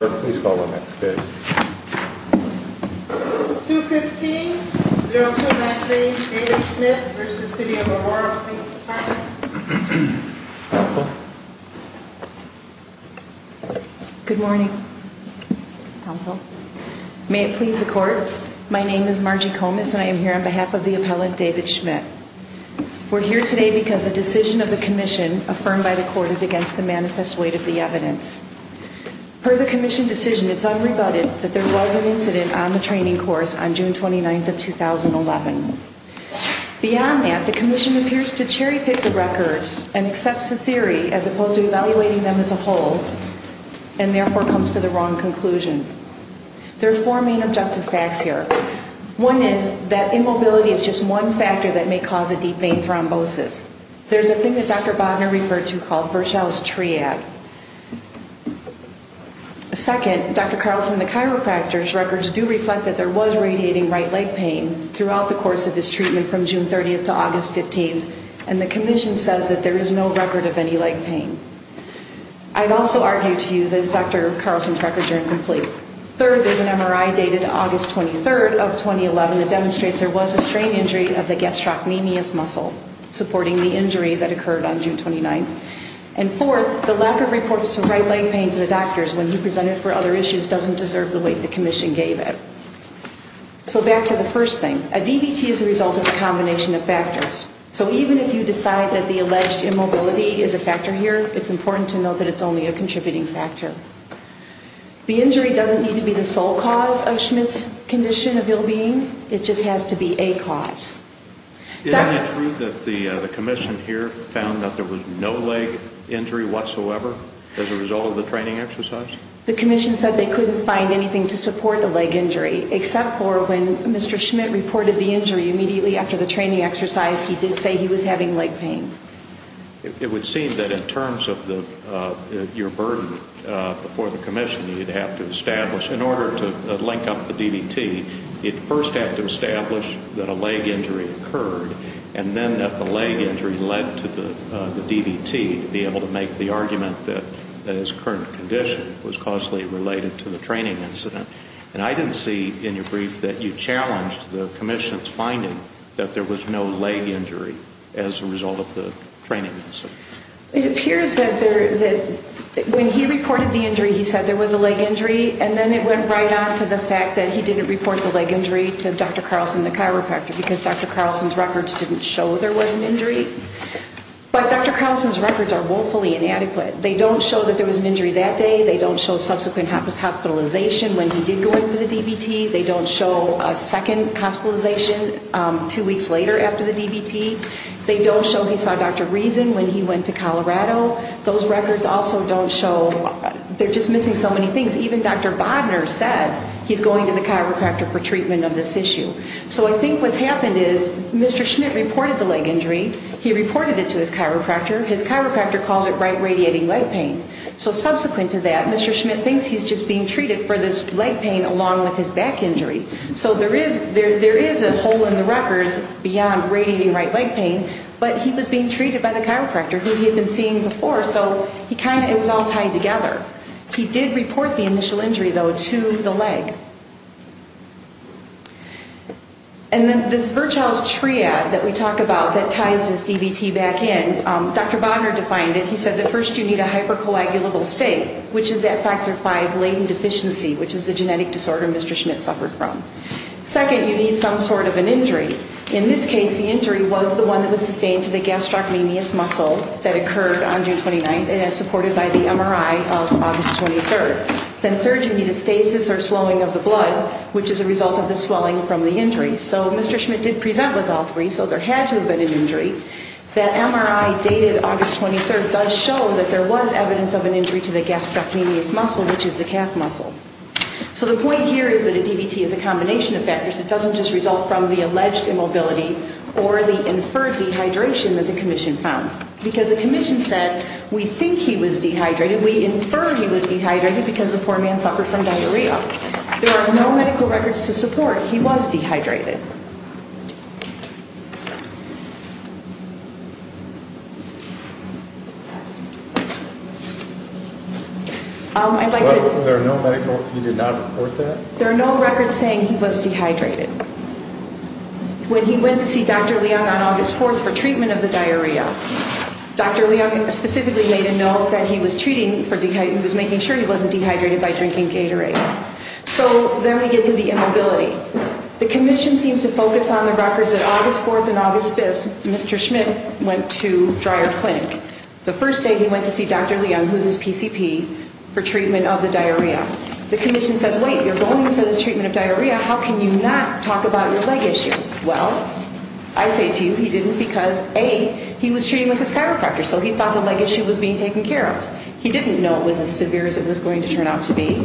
Please call the next case. 215-0293 David Schmidt v. City of Aurora Police Department. Good morning. May it please the court. My name is Margie Comis and I am here on behalf of the appellant David Schmidt. We're here today because a decision of the commission affirmed by the court is against the manifest weight of the evidence. Per the commission decision, it's unrebutted that there was an incident on the training course on June 29th of 2011. Beyond that, the commission appears to cherry pick the records and accepts the theory, as opposed to evaluating them as a whole, and therefore comes to the wrong conclusion. There are four main objective facts here. One is that immobility is just one factor that may cause a deep vein thrombosis. There's a thing that Dr. Bodnar referred to called Virchow's triad. Second, Dr. Carlson and the chiropractor's records do reflect that there was radiating right leg pain throughout the course of his treatment from June 30th to August 15th. And the commission says that there is no record of any leg pain. I'd also argue to you that Dr. Carlson's records are incomplete. Third, there's an MRI dated August 23rd of 2011 that demonstrates there was a strain injury of the gastrocnemius muscle, supporting the injury that occurred on June 29th. And fourth, the lack of reports to right leg pain to the doctors when he presented for other issues doesn't deserve the weight the commission gave it. So back to the first thing. A DVT is the result of a combination of factors. So even if you decide that the alleged immobility is a factor here, it's important to note that it's only a contributing factor. The injury doesn't need to be the sole cause of Schmidt's condition of ill-being. It just has to be a cause. Isn't it true that the commission here found that there was no leg injury whatsoever as a result of the training exercise? The commission said they couldn't find anything to support the leg injury, except for when Mr. Schmidt reported the injury immediately after the training exercise, he did say he was having leg pain. It would seem that in terms of your burden before the commission, you'd have to establish, in order to link up the DVT, you'd first have to establish that a leg injury occurred, and then that the leg injury led to the DVT to be able to make the argument that his current condition was causally related to the training incident. And I didn't see in your brief that you challenged the commission's finding that there was no leg injury as a result of the training incident. It appears that when he reported the injury, he said there was a leg injury, and then it went right on to the fact that he didn't report the leg injury to Dr. Carlson, the chiropractor, because Dr. Carlson's records didn't show there was an injury. But Dr. Carlson's records are woefully inadequate. They don't show that there was an injury that day. They don't show subsequent hospitalization when he did go in for the DVT. They don't show a second hospitalization two weeks later after the DVT. They don't show he saw Dr. Reason when he went to Colorado. Those records also don't show, they're just missing so many things. Even Dr. Bodner says he's going to the chiropractor for treatment of this issue. So I think what's happened is Mr. Schmidt reported the leg injury. He reported it to his chiropractor. His chiropractor calls it right radiating leg pain. So subsequent to that, Mr. Schmidt thinks he's just being treated for this leg pain along with his back injury. So there is a hole in the records beyond radiating right leg pain, but he was being treated by the chiropractor who he had been seeing before, so it was all tied together. He did report the initial injury, though, to the leg. And then this Virchow's triad that we talk about that ties this DVT back in, Dr. Bodner defined it. He said that first you need a hypercoagulable state, which is F factor 5 latent deficiency, which is a genetic disorder Mr. Schmidt suffered from. Second, you need some sort of an injury. In this case, the injury was the one that was sustained to the gastrocnemius muscle that occurred on June 29th and is supported by the MRI of August 23rd. Then third, you need a stasis or slowing of the blood, which is a result of the swelling from the injury. So Mr. Schmidt did present with all three, so there had to have been an injury. That MRI dated August 23rd does show that there was evidence of an injury to the gastrocnemius muscle, which is the calf muscle. So the point here is that a DVT is a combination of factors. It doesn't just result from the alleged immobility or the inferred dehydration that the commission found. Because the commission said, we think he was dehydrated, we infer he was dehydrated because the poor man suffered from diarrhea. There are no medical records to support he was dehydrated. There are no medical, you did not report that? There are no records saying he was dehydrated. When he went to see Dr. Leung on August 4th for treatment of the diarrhea, Dr. Leung specifically made a note that he was treating, he was making sure he wasn't dehydrated by drinking Gatorade. So then we get to the immobility. The commission seems to focus on the records that August 4th and August 5th, Mr. Schmidt went to Dreyer Clinic. The first day he went to see Dr. Leung, who is his PCP, for treatment of the diarrhea. The commission says, wait, you're going for this treatment of diarrhea, how can you not talk about your leg issue? Well, I say to you, he didn't because A, he was treating with his chiropractor, so he thought the leg issue was being taken care of. He didn't know it was as severe as it was going to turn out to be.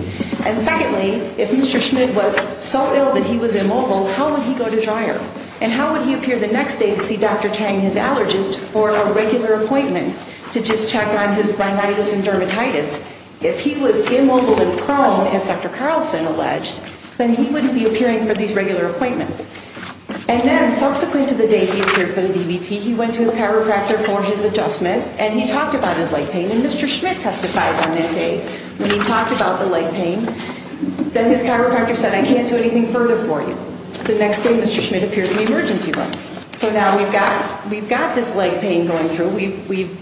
And secondly, if Mr. Schmidt was so ill that he was immobile, how would he go to Dreyer? And how would he appear the next day to see Dr. Tang, his allergist, for a regular appointment to just check on his rhinitis and dermatitis? If he was immobile and prone, as Dr. Carlson alleged, then he wouldn't be appearing for these regular appointments. And then subsequent to the day he appeared for the DVT, he went to his chiropractor for his adjustment, and he talked about his leg pain, and Mr. Schmidt testifies on that day when he talked about the leg pain, that his chiropractor said, I can't do anything further for you. The next day, Mr. Schmidt appears in the emergency room. So now we've got this leg pain going through. We've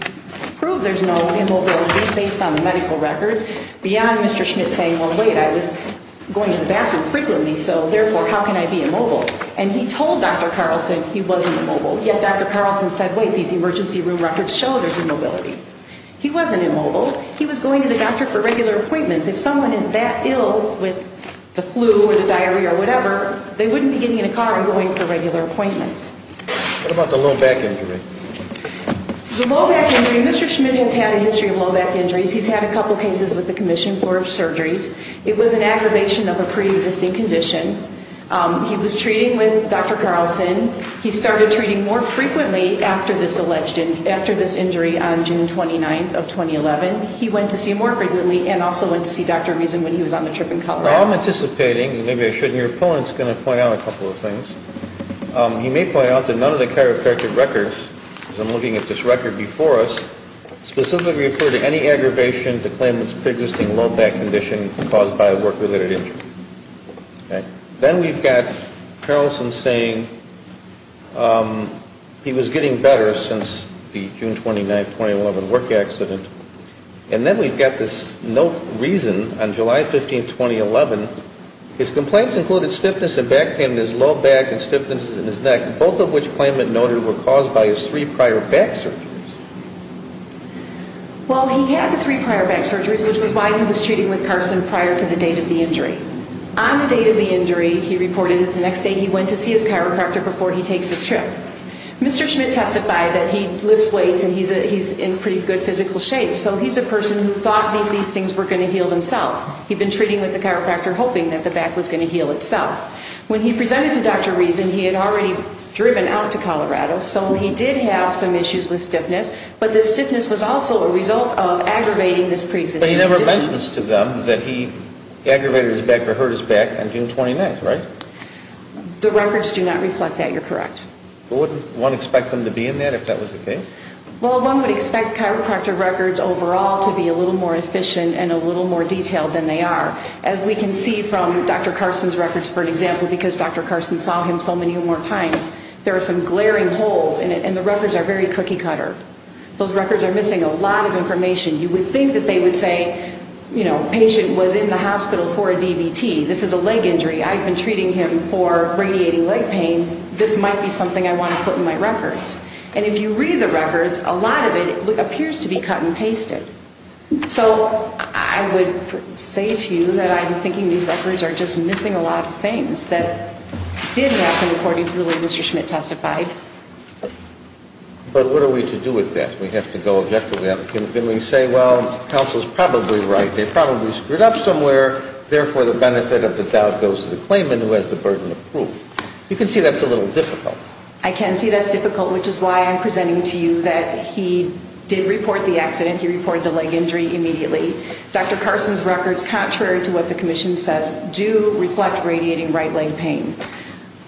proved there's no immobility based on medical records beyond Mr. Schmidt saying, well, wait, I was going to the bathroom frequently, so therefore, how can I be immobile? And he told Dr. Carlson he wasn't immobile. Yet Dr. Carlson said, wait, these emergency room records show there's immobility. He wasn't immobile. He was going to the doctor for regular appointments. If someone is that ill with the flu or the diarrhea or whatever, they wouldn't be getting in a car and going for regular appointments. What about the low back injury? The low back injury, Mr. Schmidt has had a history of low back injuries. He's had a couple cases with the commission for surgeries. It was an aggravation of a preexisting condition. He was treating with Dr. Carlson. He started treating more frequently after this injury on June 29th of 2011. He went to see him more frequently and also went to see Dr. Reason when he was on the trip in Colorado. Well, I'm anticipating, and maybe I shouldn't, your opponent's going to point out a couple of things. He may point out that none of the characteristic records, because I'm looking at this record before us, specifically refer to any aggravation to claim it's a preexisting low back condition caused by a work-related injury. Okay? Then we've got Carlson saying he was getting better since the June 29th, 2011 work accident. And then we've got this note, Reason, on July 15th, 2011. His complaints included stiffness in back pain in his low back and stiffness in his neck, both of which claimant noted were caused by his three prior back surgeries. Well, he had the three prior back surgeries, which was why he was treating with Carlson prior to the date of the injury. On the date of the injury, he reported that the next day he went to see his chiropractor and he takes his trip. Mr. Schmidt testified that he lifts weights and he's in pretty good physical shape, so he's a person who thought these things were going to heal themselves. He'd been treating with the chiropractor hoping that the back was going to heal itself. When he presented to Dr. Reason, he had already driven out to Colorado, so he did have some issues with stiffness, but the stiffness was also a result of aggravating this preexisting condition. But he never mentions to them that he aggravated his back or hurt his back on June 29th, right? That's correct. Wouldn't one expect him to be in there if that was the case? Well, one would expect chiropractor records overall to be a little more efficient and a little more detailed than they are. As we can see from Dr. Carson's records, for example, because Dr. Carson saw him so many more times, there are some glaring holes in it and the records are very cookie cutter. Those records are missing a lot of information. You would think that they would say, you know, patient was in the hospital for a DVT. This is a leg injury. This might be something I want to put in my records. And if you read the records, a lot of it appears to be cut and pasted. So I would say to you that I'm thinking these records are just missing a lot of things that did happen according to the way Mr. Schmidt testified. But what are we to do with that? We have to go objectively. Can we say, well, counsel's probably right. They probably screwed up somewhere. Therefore, the benefit of the doubt goes to the claimant who has the burden of proof. You can see that's a little difficult. I can see that's difficult, which is why I'm presenting to you that he did report the accident. He reported the leg injury immediately. Dr. Carson's records, contrary to what the commission says, do reflect radiating right leg pain.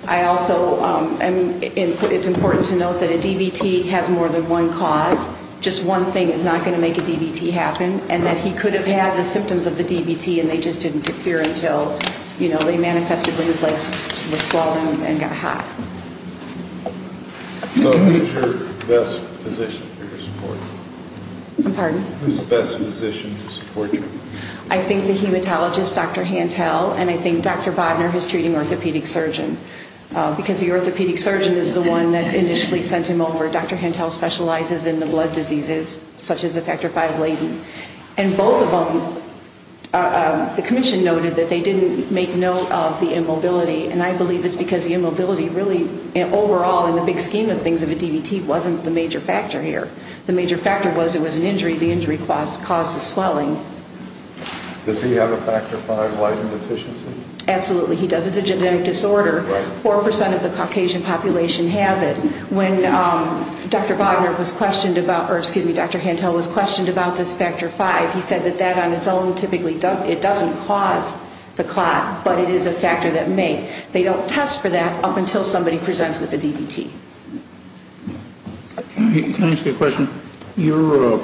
I also, it's important to note that a DVT has more than one cause. Just one thing is not going to make a DVT happen and that he could have had the symptoms of the DVT and they just didn't appear until they manifested when his legs were swollen and got hot. So who's your best physician to support you? I'm pardon? Who's the best physician to support you? I think the hematologist, Dr. Hantel, and I think Dr. Bodnar, his treating orthopedic surgeon. Because the orthopedic surgeon is the one that initially sent him over. Dr. Hantel specializes in the blood diseases such as effector 5-laden. And both of them, they said that they didn't make note of the immobility. And I believe it's because the immobility really, overall in the big scheme of things, of a DVT wasn't the major factor here. The major factor was it was an injury. The injury caused the swelling. Does he have a factor 5-laden deficiency? Absolutely, he does. It's a genetic disorder. 4% of the Caucasian population has it. When Dr. Bodnar was questioned about, or excuse me, Dr. Hantel was questioned about this factor 5, he said that that on its own doesn't affect the clot, but it is a factor that may. They don't test for that up until somebody presents with a DVT. Can I ask you a question? You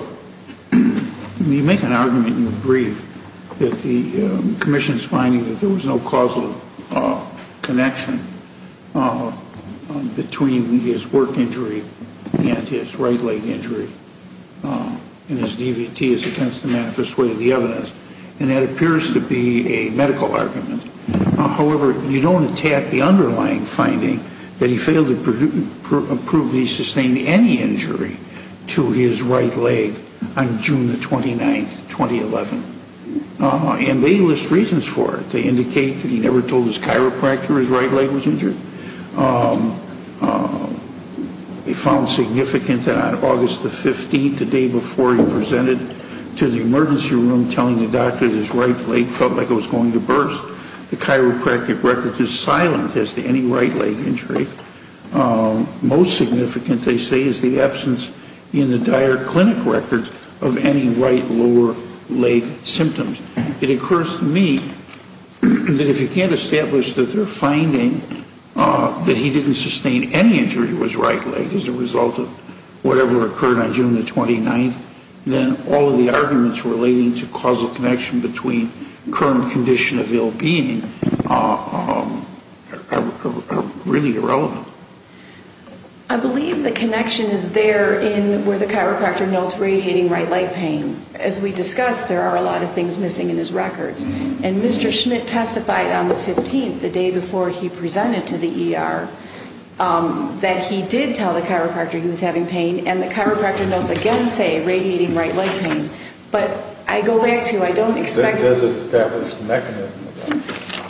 make an argument in the brief that the commission's finding that there was no causal connection between his work injury and his right leg injury, and his DVT is against the manifest way of the evidence. And that appears to be a medical argument. However, you don't attack the underlying finding that he failed to prove that he sustained any injury to his right leg on June the 29th, 2011. And they list reasons for it. They indicate that he never told his chiropractor his right leg was injured. They found significant that on August the 15th, the day before he presented to the emergency room telling the doctor his right leg felt like it was going to burst. The chiropractic records is silent as to any right leg injury. Most significant, they say, is the absence in the Dyer Clinic records of any right lower leg symptoms. It occurs to me that if you can't establish that their finding that he didn't sustain any injury to his right leg as a result of whatever occurred on June the 29th, then all of the arguments relating to causal connection between current condition of ill being are really irrelevant. I believe the connection is there in where the chiropractor notes radiating right leg pain. As we discussed, there are a lot of things missing in his records. And Mr. Schmidt testified on the 15th, the day before he presented to the ER, the chiropractor notes again say radiating right leg pain. But I go back to, I don't expect...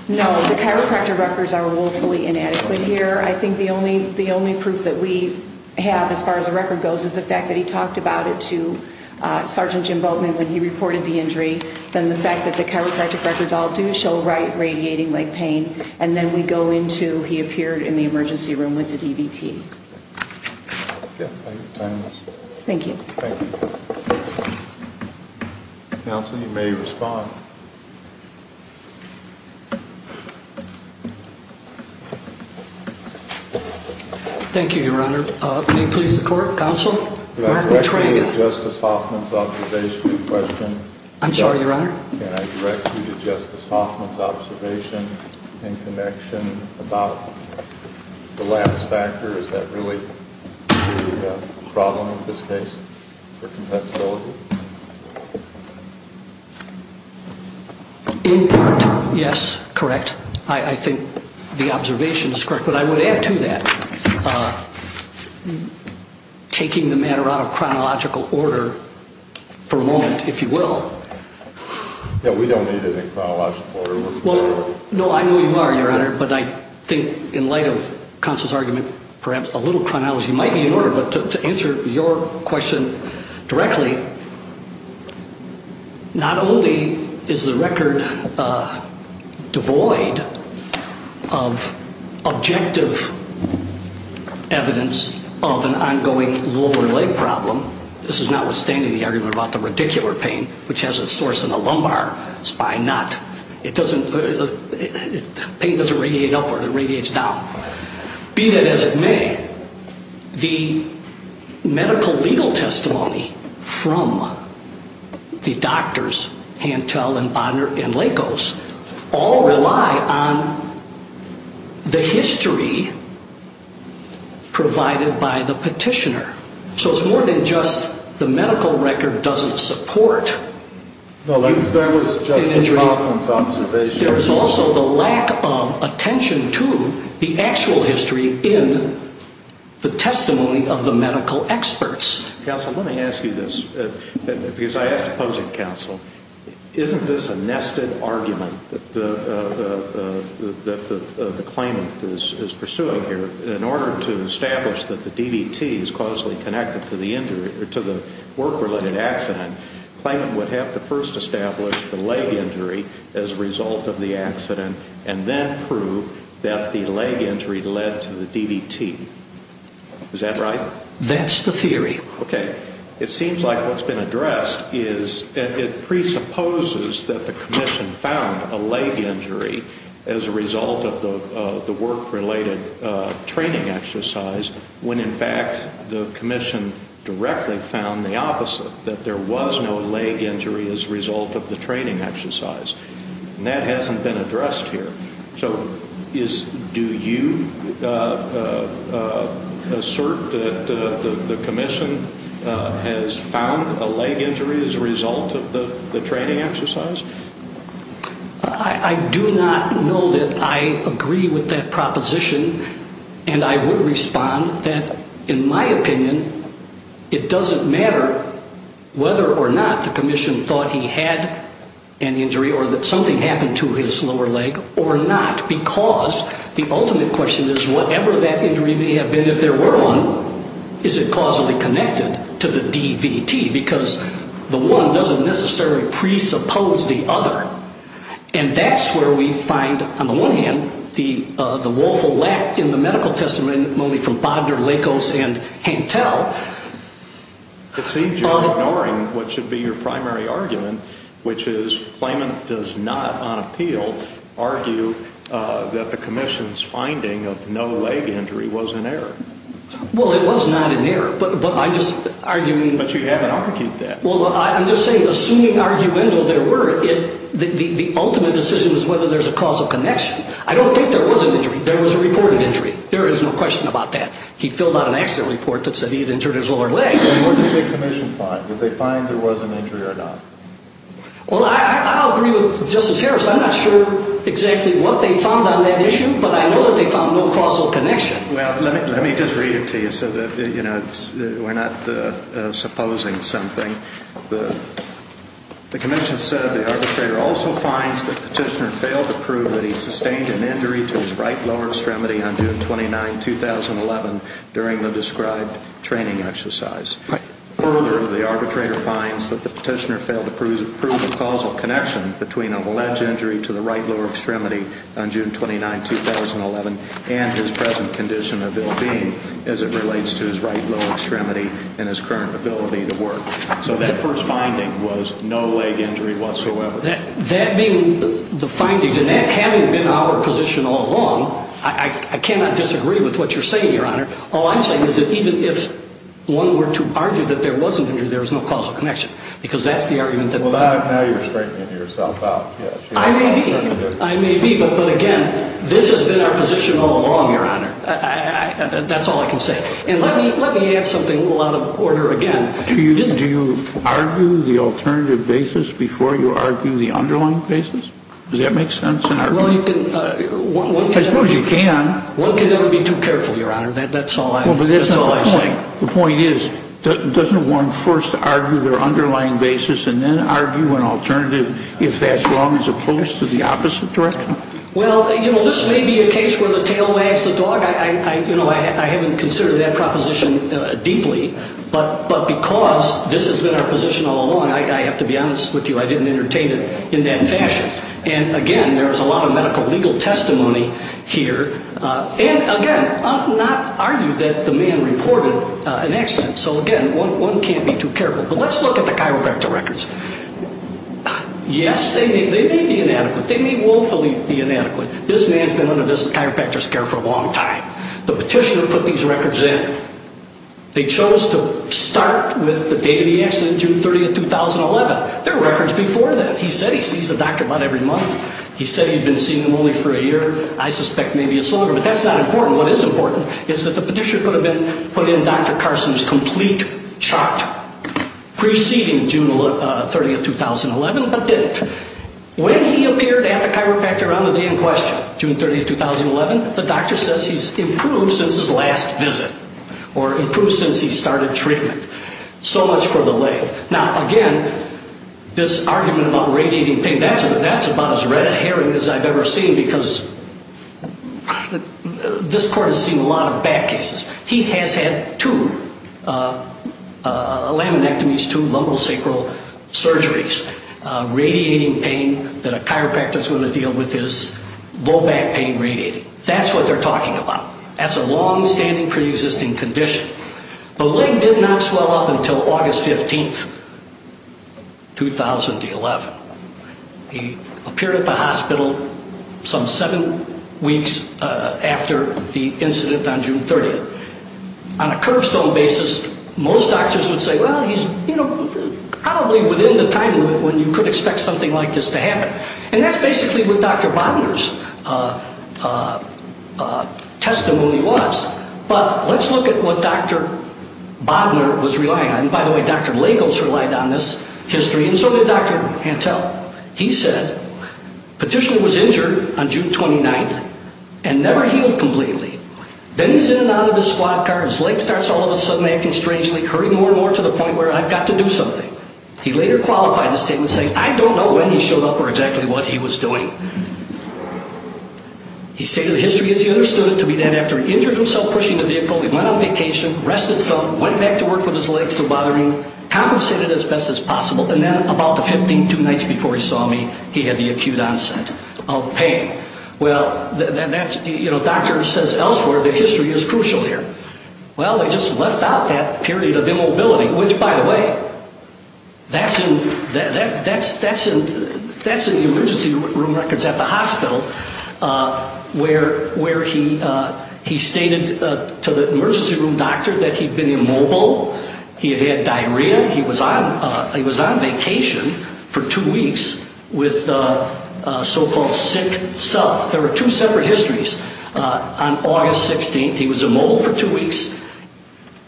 No, the chiropractor records are woefully inadequate here. I think the only proof that we have as far as the record goes is the fact that he talked about it to Sergeant Jim Boatman when he reported the injury. Then the fact that the chiropractic records all do show right radiating leg pain. And then we go into he appeared in the emergency room where he mentioned that's been recorded One of the things that we do is a screen a patient 請 s be able to see where there's changes that basically we have a problem with this case for compensability In part, yes, correct I think the observation is correct but I would add to that taking the matter out of chronological order for a moment, if you will Yeah, we don't need any chronological order No, I know you are, your honor but I think in light of counsel's argument perhaps a little chronology might be in order but to answer your question directly not only is the record devoid of objective evidence of an ongoing lower leg problem this is notwithstanding the argument about the radicular pain which has a source in the lumbar spine not it doesn't pain doesn't radiate upward it radiates down be that as it may the medical legal testimony from the doctors Hantel and Bonner and Lakos all rely on the history provided by the petitioner so it's more than just the medical record doesn't support No, that was just a observation There's also the lack of attention to the actual history in the testimony of the medical experts Counsel, let me ask you this because I ask opposing counsel isn't this a nested argument that the claimant is pursuing here in order to establish that the DVT is causally connected to the injury to the work-related accident the claimant would have to first establish the leg injury as a result of the accident and then prove that the leg injury led to the DVT Is that right? That's the theory Okay It seems like what's been addressed is it presupposes that the commission found a leg injury as a result of the work-related training exercise when in fact the commission directly found the opposite that there was no leg injury as a result of the training exercise and that hasn't been addressed here So do you assert that the commission has found a leg injury as a result of the training exercise? I do not know that I agree with that proposition and I would respond that in my opinion it doesn't matter whether or not the commission thought he had an injury or that something happened to his lower leg or not because the ultimate question is whatever that injury may have been if there were one is it causally connected to the DVT because the one doesn't necessarily presuppose and that's where we find on the one hand the woeful lack in the medical testimony from Bodner, Lakos, and Hantel It seems you're ignoring what should be your primary argument which is claimant does not on appeal argue that the commission's finding of no leg injury was an error Well it was not an error but I'm just arguing But you haven't argued that Well I'm just saying assuming arguendo there were the ultimate decision is whether there's a causal connection I don't think there was an injury there was a reported injury there is no accident report that said he had injured his lower leg What did the commission find? Did they find there was an injury or not? Well I don't agree with Justice Harris I'm not sure exactly what they found on that issue but I know that they found no causal connection Well let me just read it to you so that we're not supposing something The commission said the petitioner failed to prove a causal connection between a leg injury to the right lower extremity on June 29, 2011 and his present condition of ill being as it relates to his right lower extremity and his current ability to work So that first finding was no leg injury whatsoever That being the findings and that having been our position all along I cannot disagree with what you're saying your honor All I'm saying is that even if one were to argue that there wasn't an injury there was no causal connection because that's the argument Well now you're straightening yourself out I may be but again this has been our position all along your honor that's all I can say and let me add something a little out of order again Do you argue the alternative basis before you argue the underlying basis? Does that make sense? Well you can I suppose you can One can never be too careful your honor that's all I say The point is doesn't one first argue their underlying basis and then argue an alternative if that's wrong as opposed to the opposite direction? Well you know this may be a case where the tail wags the dog I haven't considered that proposition deeply but because this has been our position all along I have to be honest with you I didn't entertain it in that fashion and again there's a lot of medical legal testimony here and again I'm not arguing that the man reported an accident so again one can't be too careful but let's look at the chiropractor records yes they may be inadequate they may woefully be inadequate this man's been under this chiropractor's care for a long time the petitioner put these records in they chose to start with the day of the accident June 30th 2011 there are records before that proceeding June 30th 2011 but didn't when he appeared at the chiropractor on the day in question June 30th 2011 the doctor says he's improved since his last visit or improved since he started treatment so much for the lay now again this argument about radiating pain that's about as red as I've ever seen because this court has seen a lot of bad cases he has had two laminectomies two lumbosacral surgeries radiating pain that a chiropractor's going to deal with is low back pain radiating that's what they're talking about that's a long-standing pre-existing condition the leg did not recover from the hospital some seven weeks after the incident on June 30th on a curve stone basis most doctors would say he's probably within the time limit when you could expect something like this to happen and that's basically what Dr. Bodner's testimony was but let's look at what Dr. Bodner was relying on by the way Dr. Lagos relied on this history and so did Dr. Hantel he said petitioner was injured on June 29th and never healed completely then he's in and the hospital and that's basically what he was doing he stated the history as he understood it to be that after he injured himself pushing the vehicle he went on vacation rested some went back to work with his legs still bothering compensated as best as possible and then about 15 two nights before he saw me he had the acute onset of pain well doctor says elsewhere the history is crucial here well they just left out that period of immobility which by the way that's in the emergency room records at the hospital where he stated to the emergency room doctor that he had been immobile he had diarrhea he was on vacation for two weeks with so called sick self there were two separate histories on August 16th he was immobile for two weeks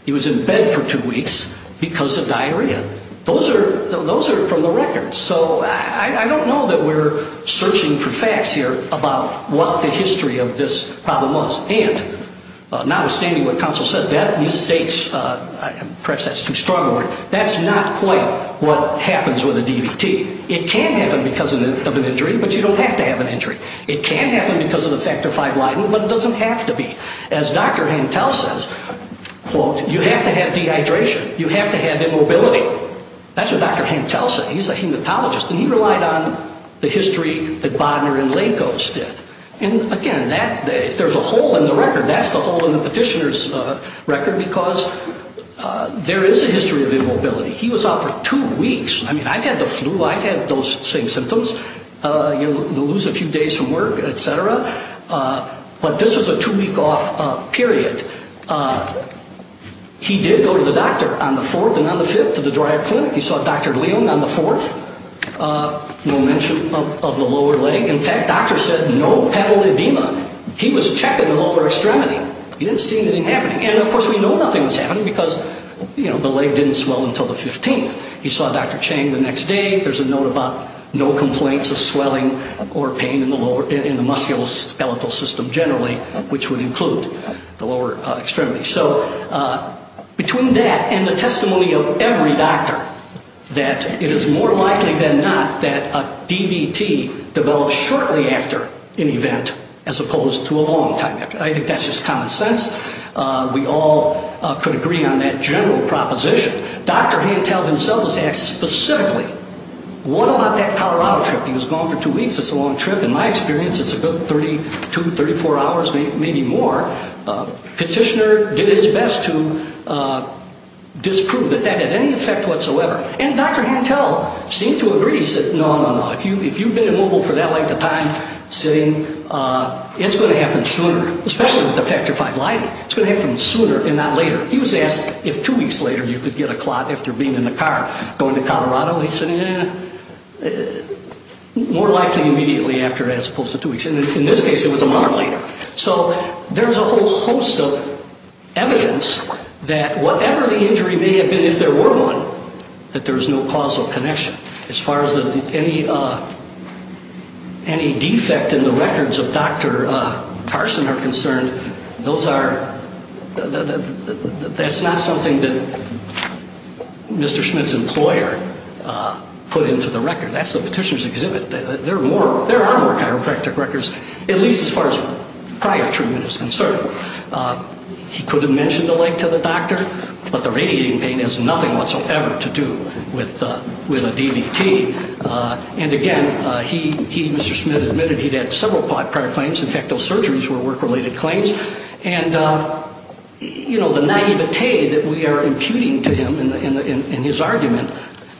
he was in bed for two weeks because of diarrhea those are from the records so I don't know that we're searching for facts here about what the history of this problem was and notwithstanding what counsel said that mistakes perhaps that's too strong a word what counsel says quote you have to have dehydration you have to have immobility that's what Dr. Hentel said he's a hematologist and he relied on the history that Bodner and Lakos did and again if there's a hole in the record that's the hole in the petitioner's record there is a history of immobility he was out for two weeks I've had the flu I've had those same symptoms you lose a few days from work etc. but this was a two week off period he did go to the doctor on the fourth and fifth day he didn't see anything happening he saw Dr. Chang the next day there's a note about no complaints of swelling or pain in the musculoskeletal system generally which would include the lower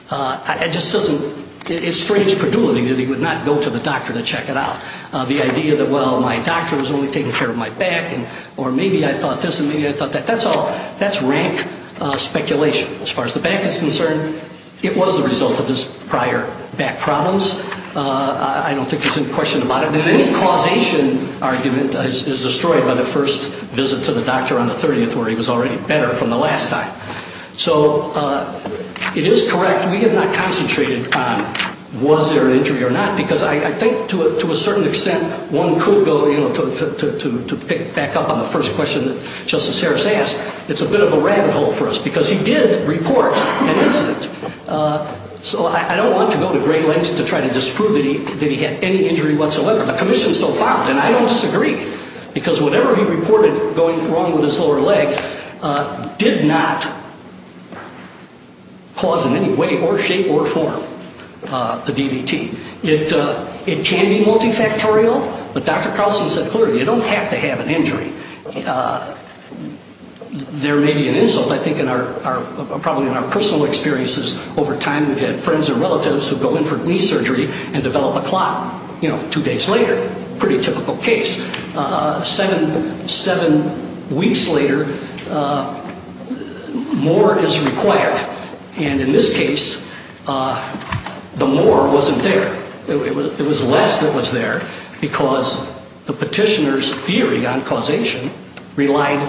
which is a typical case seven weeks later more is required and in this case the more wasn't there it was less that was there because the petitioner's theory on causation relied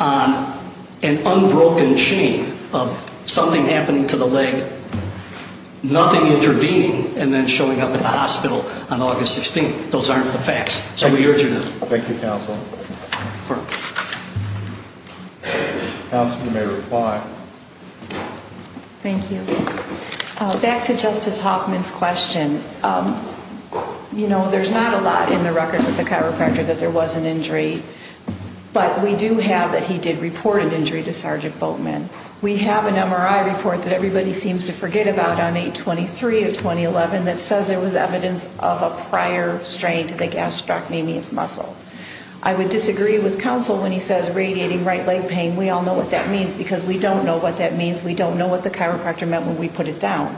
on an unbroken chain of something happening to the leg nothing intervening and then showing up at the hospital on August 16th those aren't the facts so we urge you to thank you counsel counsel you may reply thank you back to justice Hoffman's question I would disagree with counsel when he says radiating right leg pain we all know what that means because we don't that means we don't know what the chiropractor meant when we put it down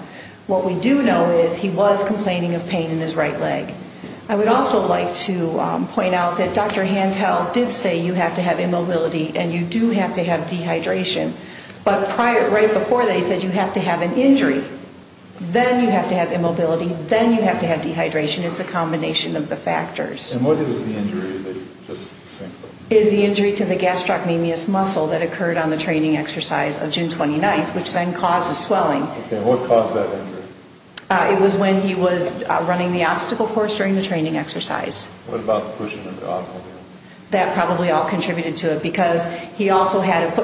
what we do know is he was complaining about pain in his right leg I would also like to point out that Dr. Hantel did say you have to have immobility and you do have to have dehydration but right before that he said you have to have an injury then you have to have a foot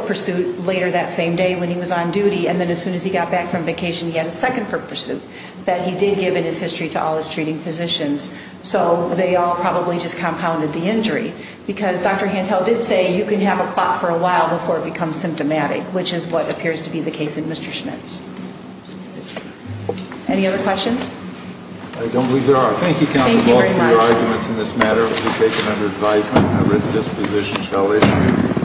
pursuit and then as soon as he got back from vacation he had a second foot pursuit that he did give in his history to all his treating physicians so they all probably just compounded the injury because Dr. Hantel did say you can have every need you have an injury but then you don't have this foot at all because you have ajan component of that injury so it don't have this foot at all because you have an injury but then you don't have this foot at all because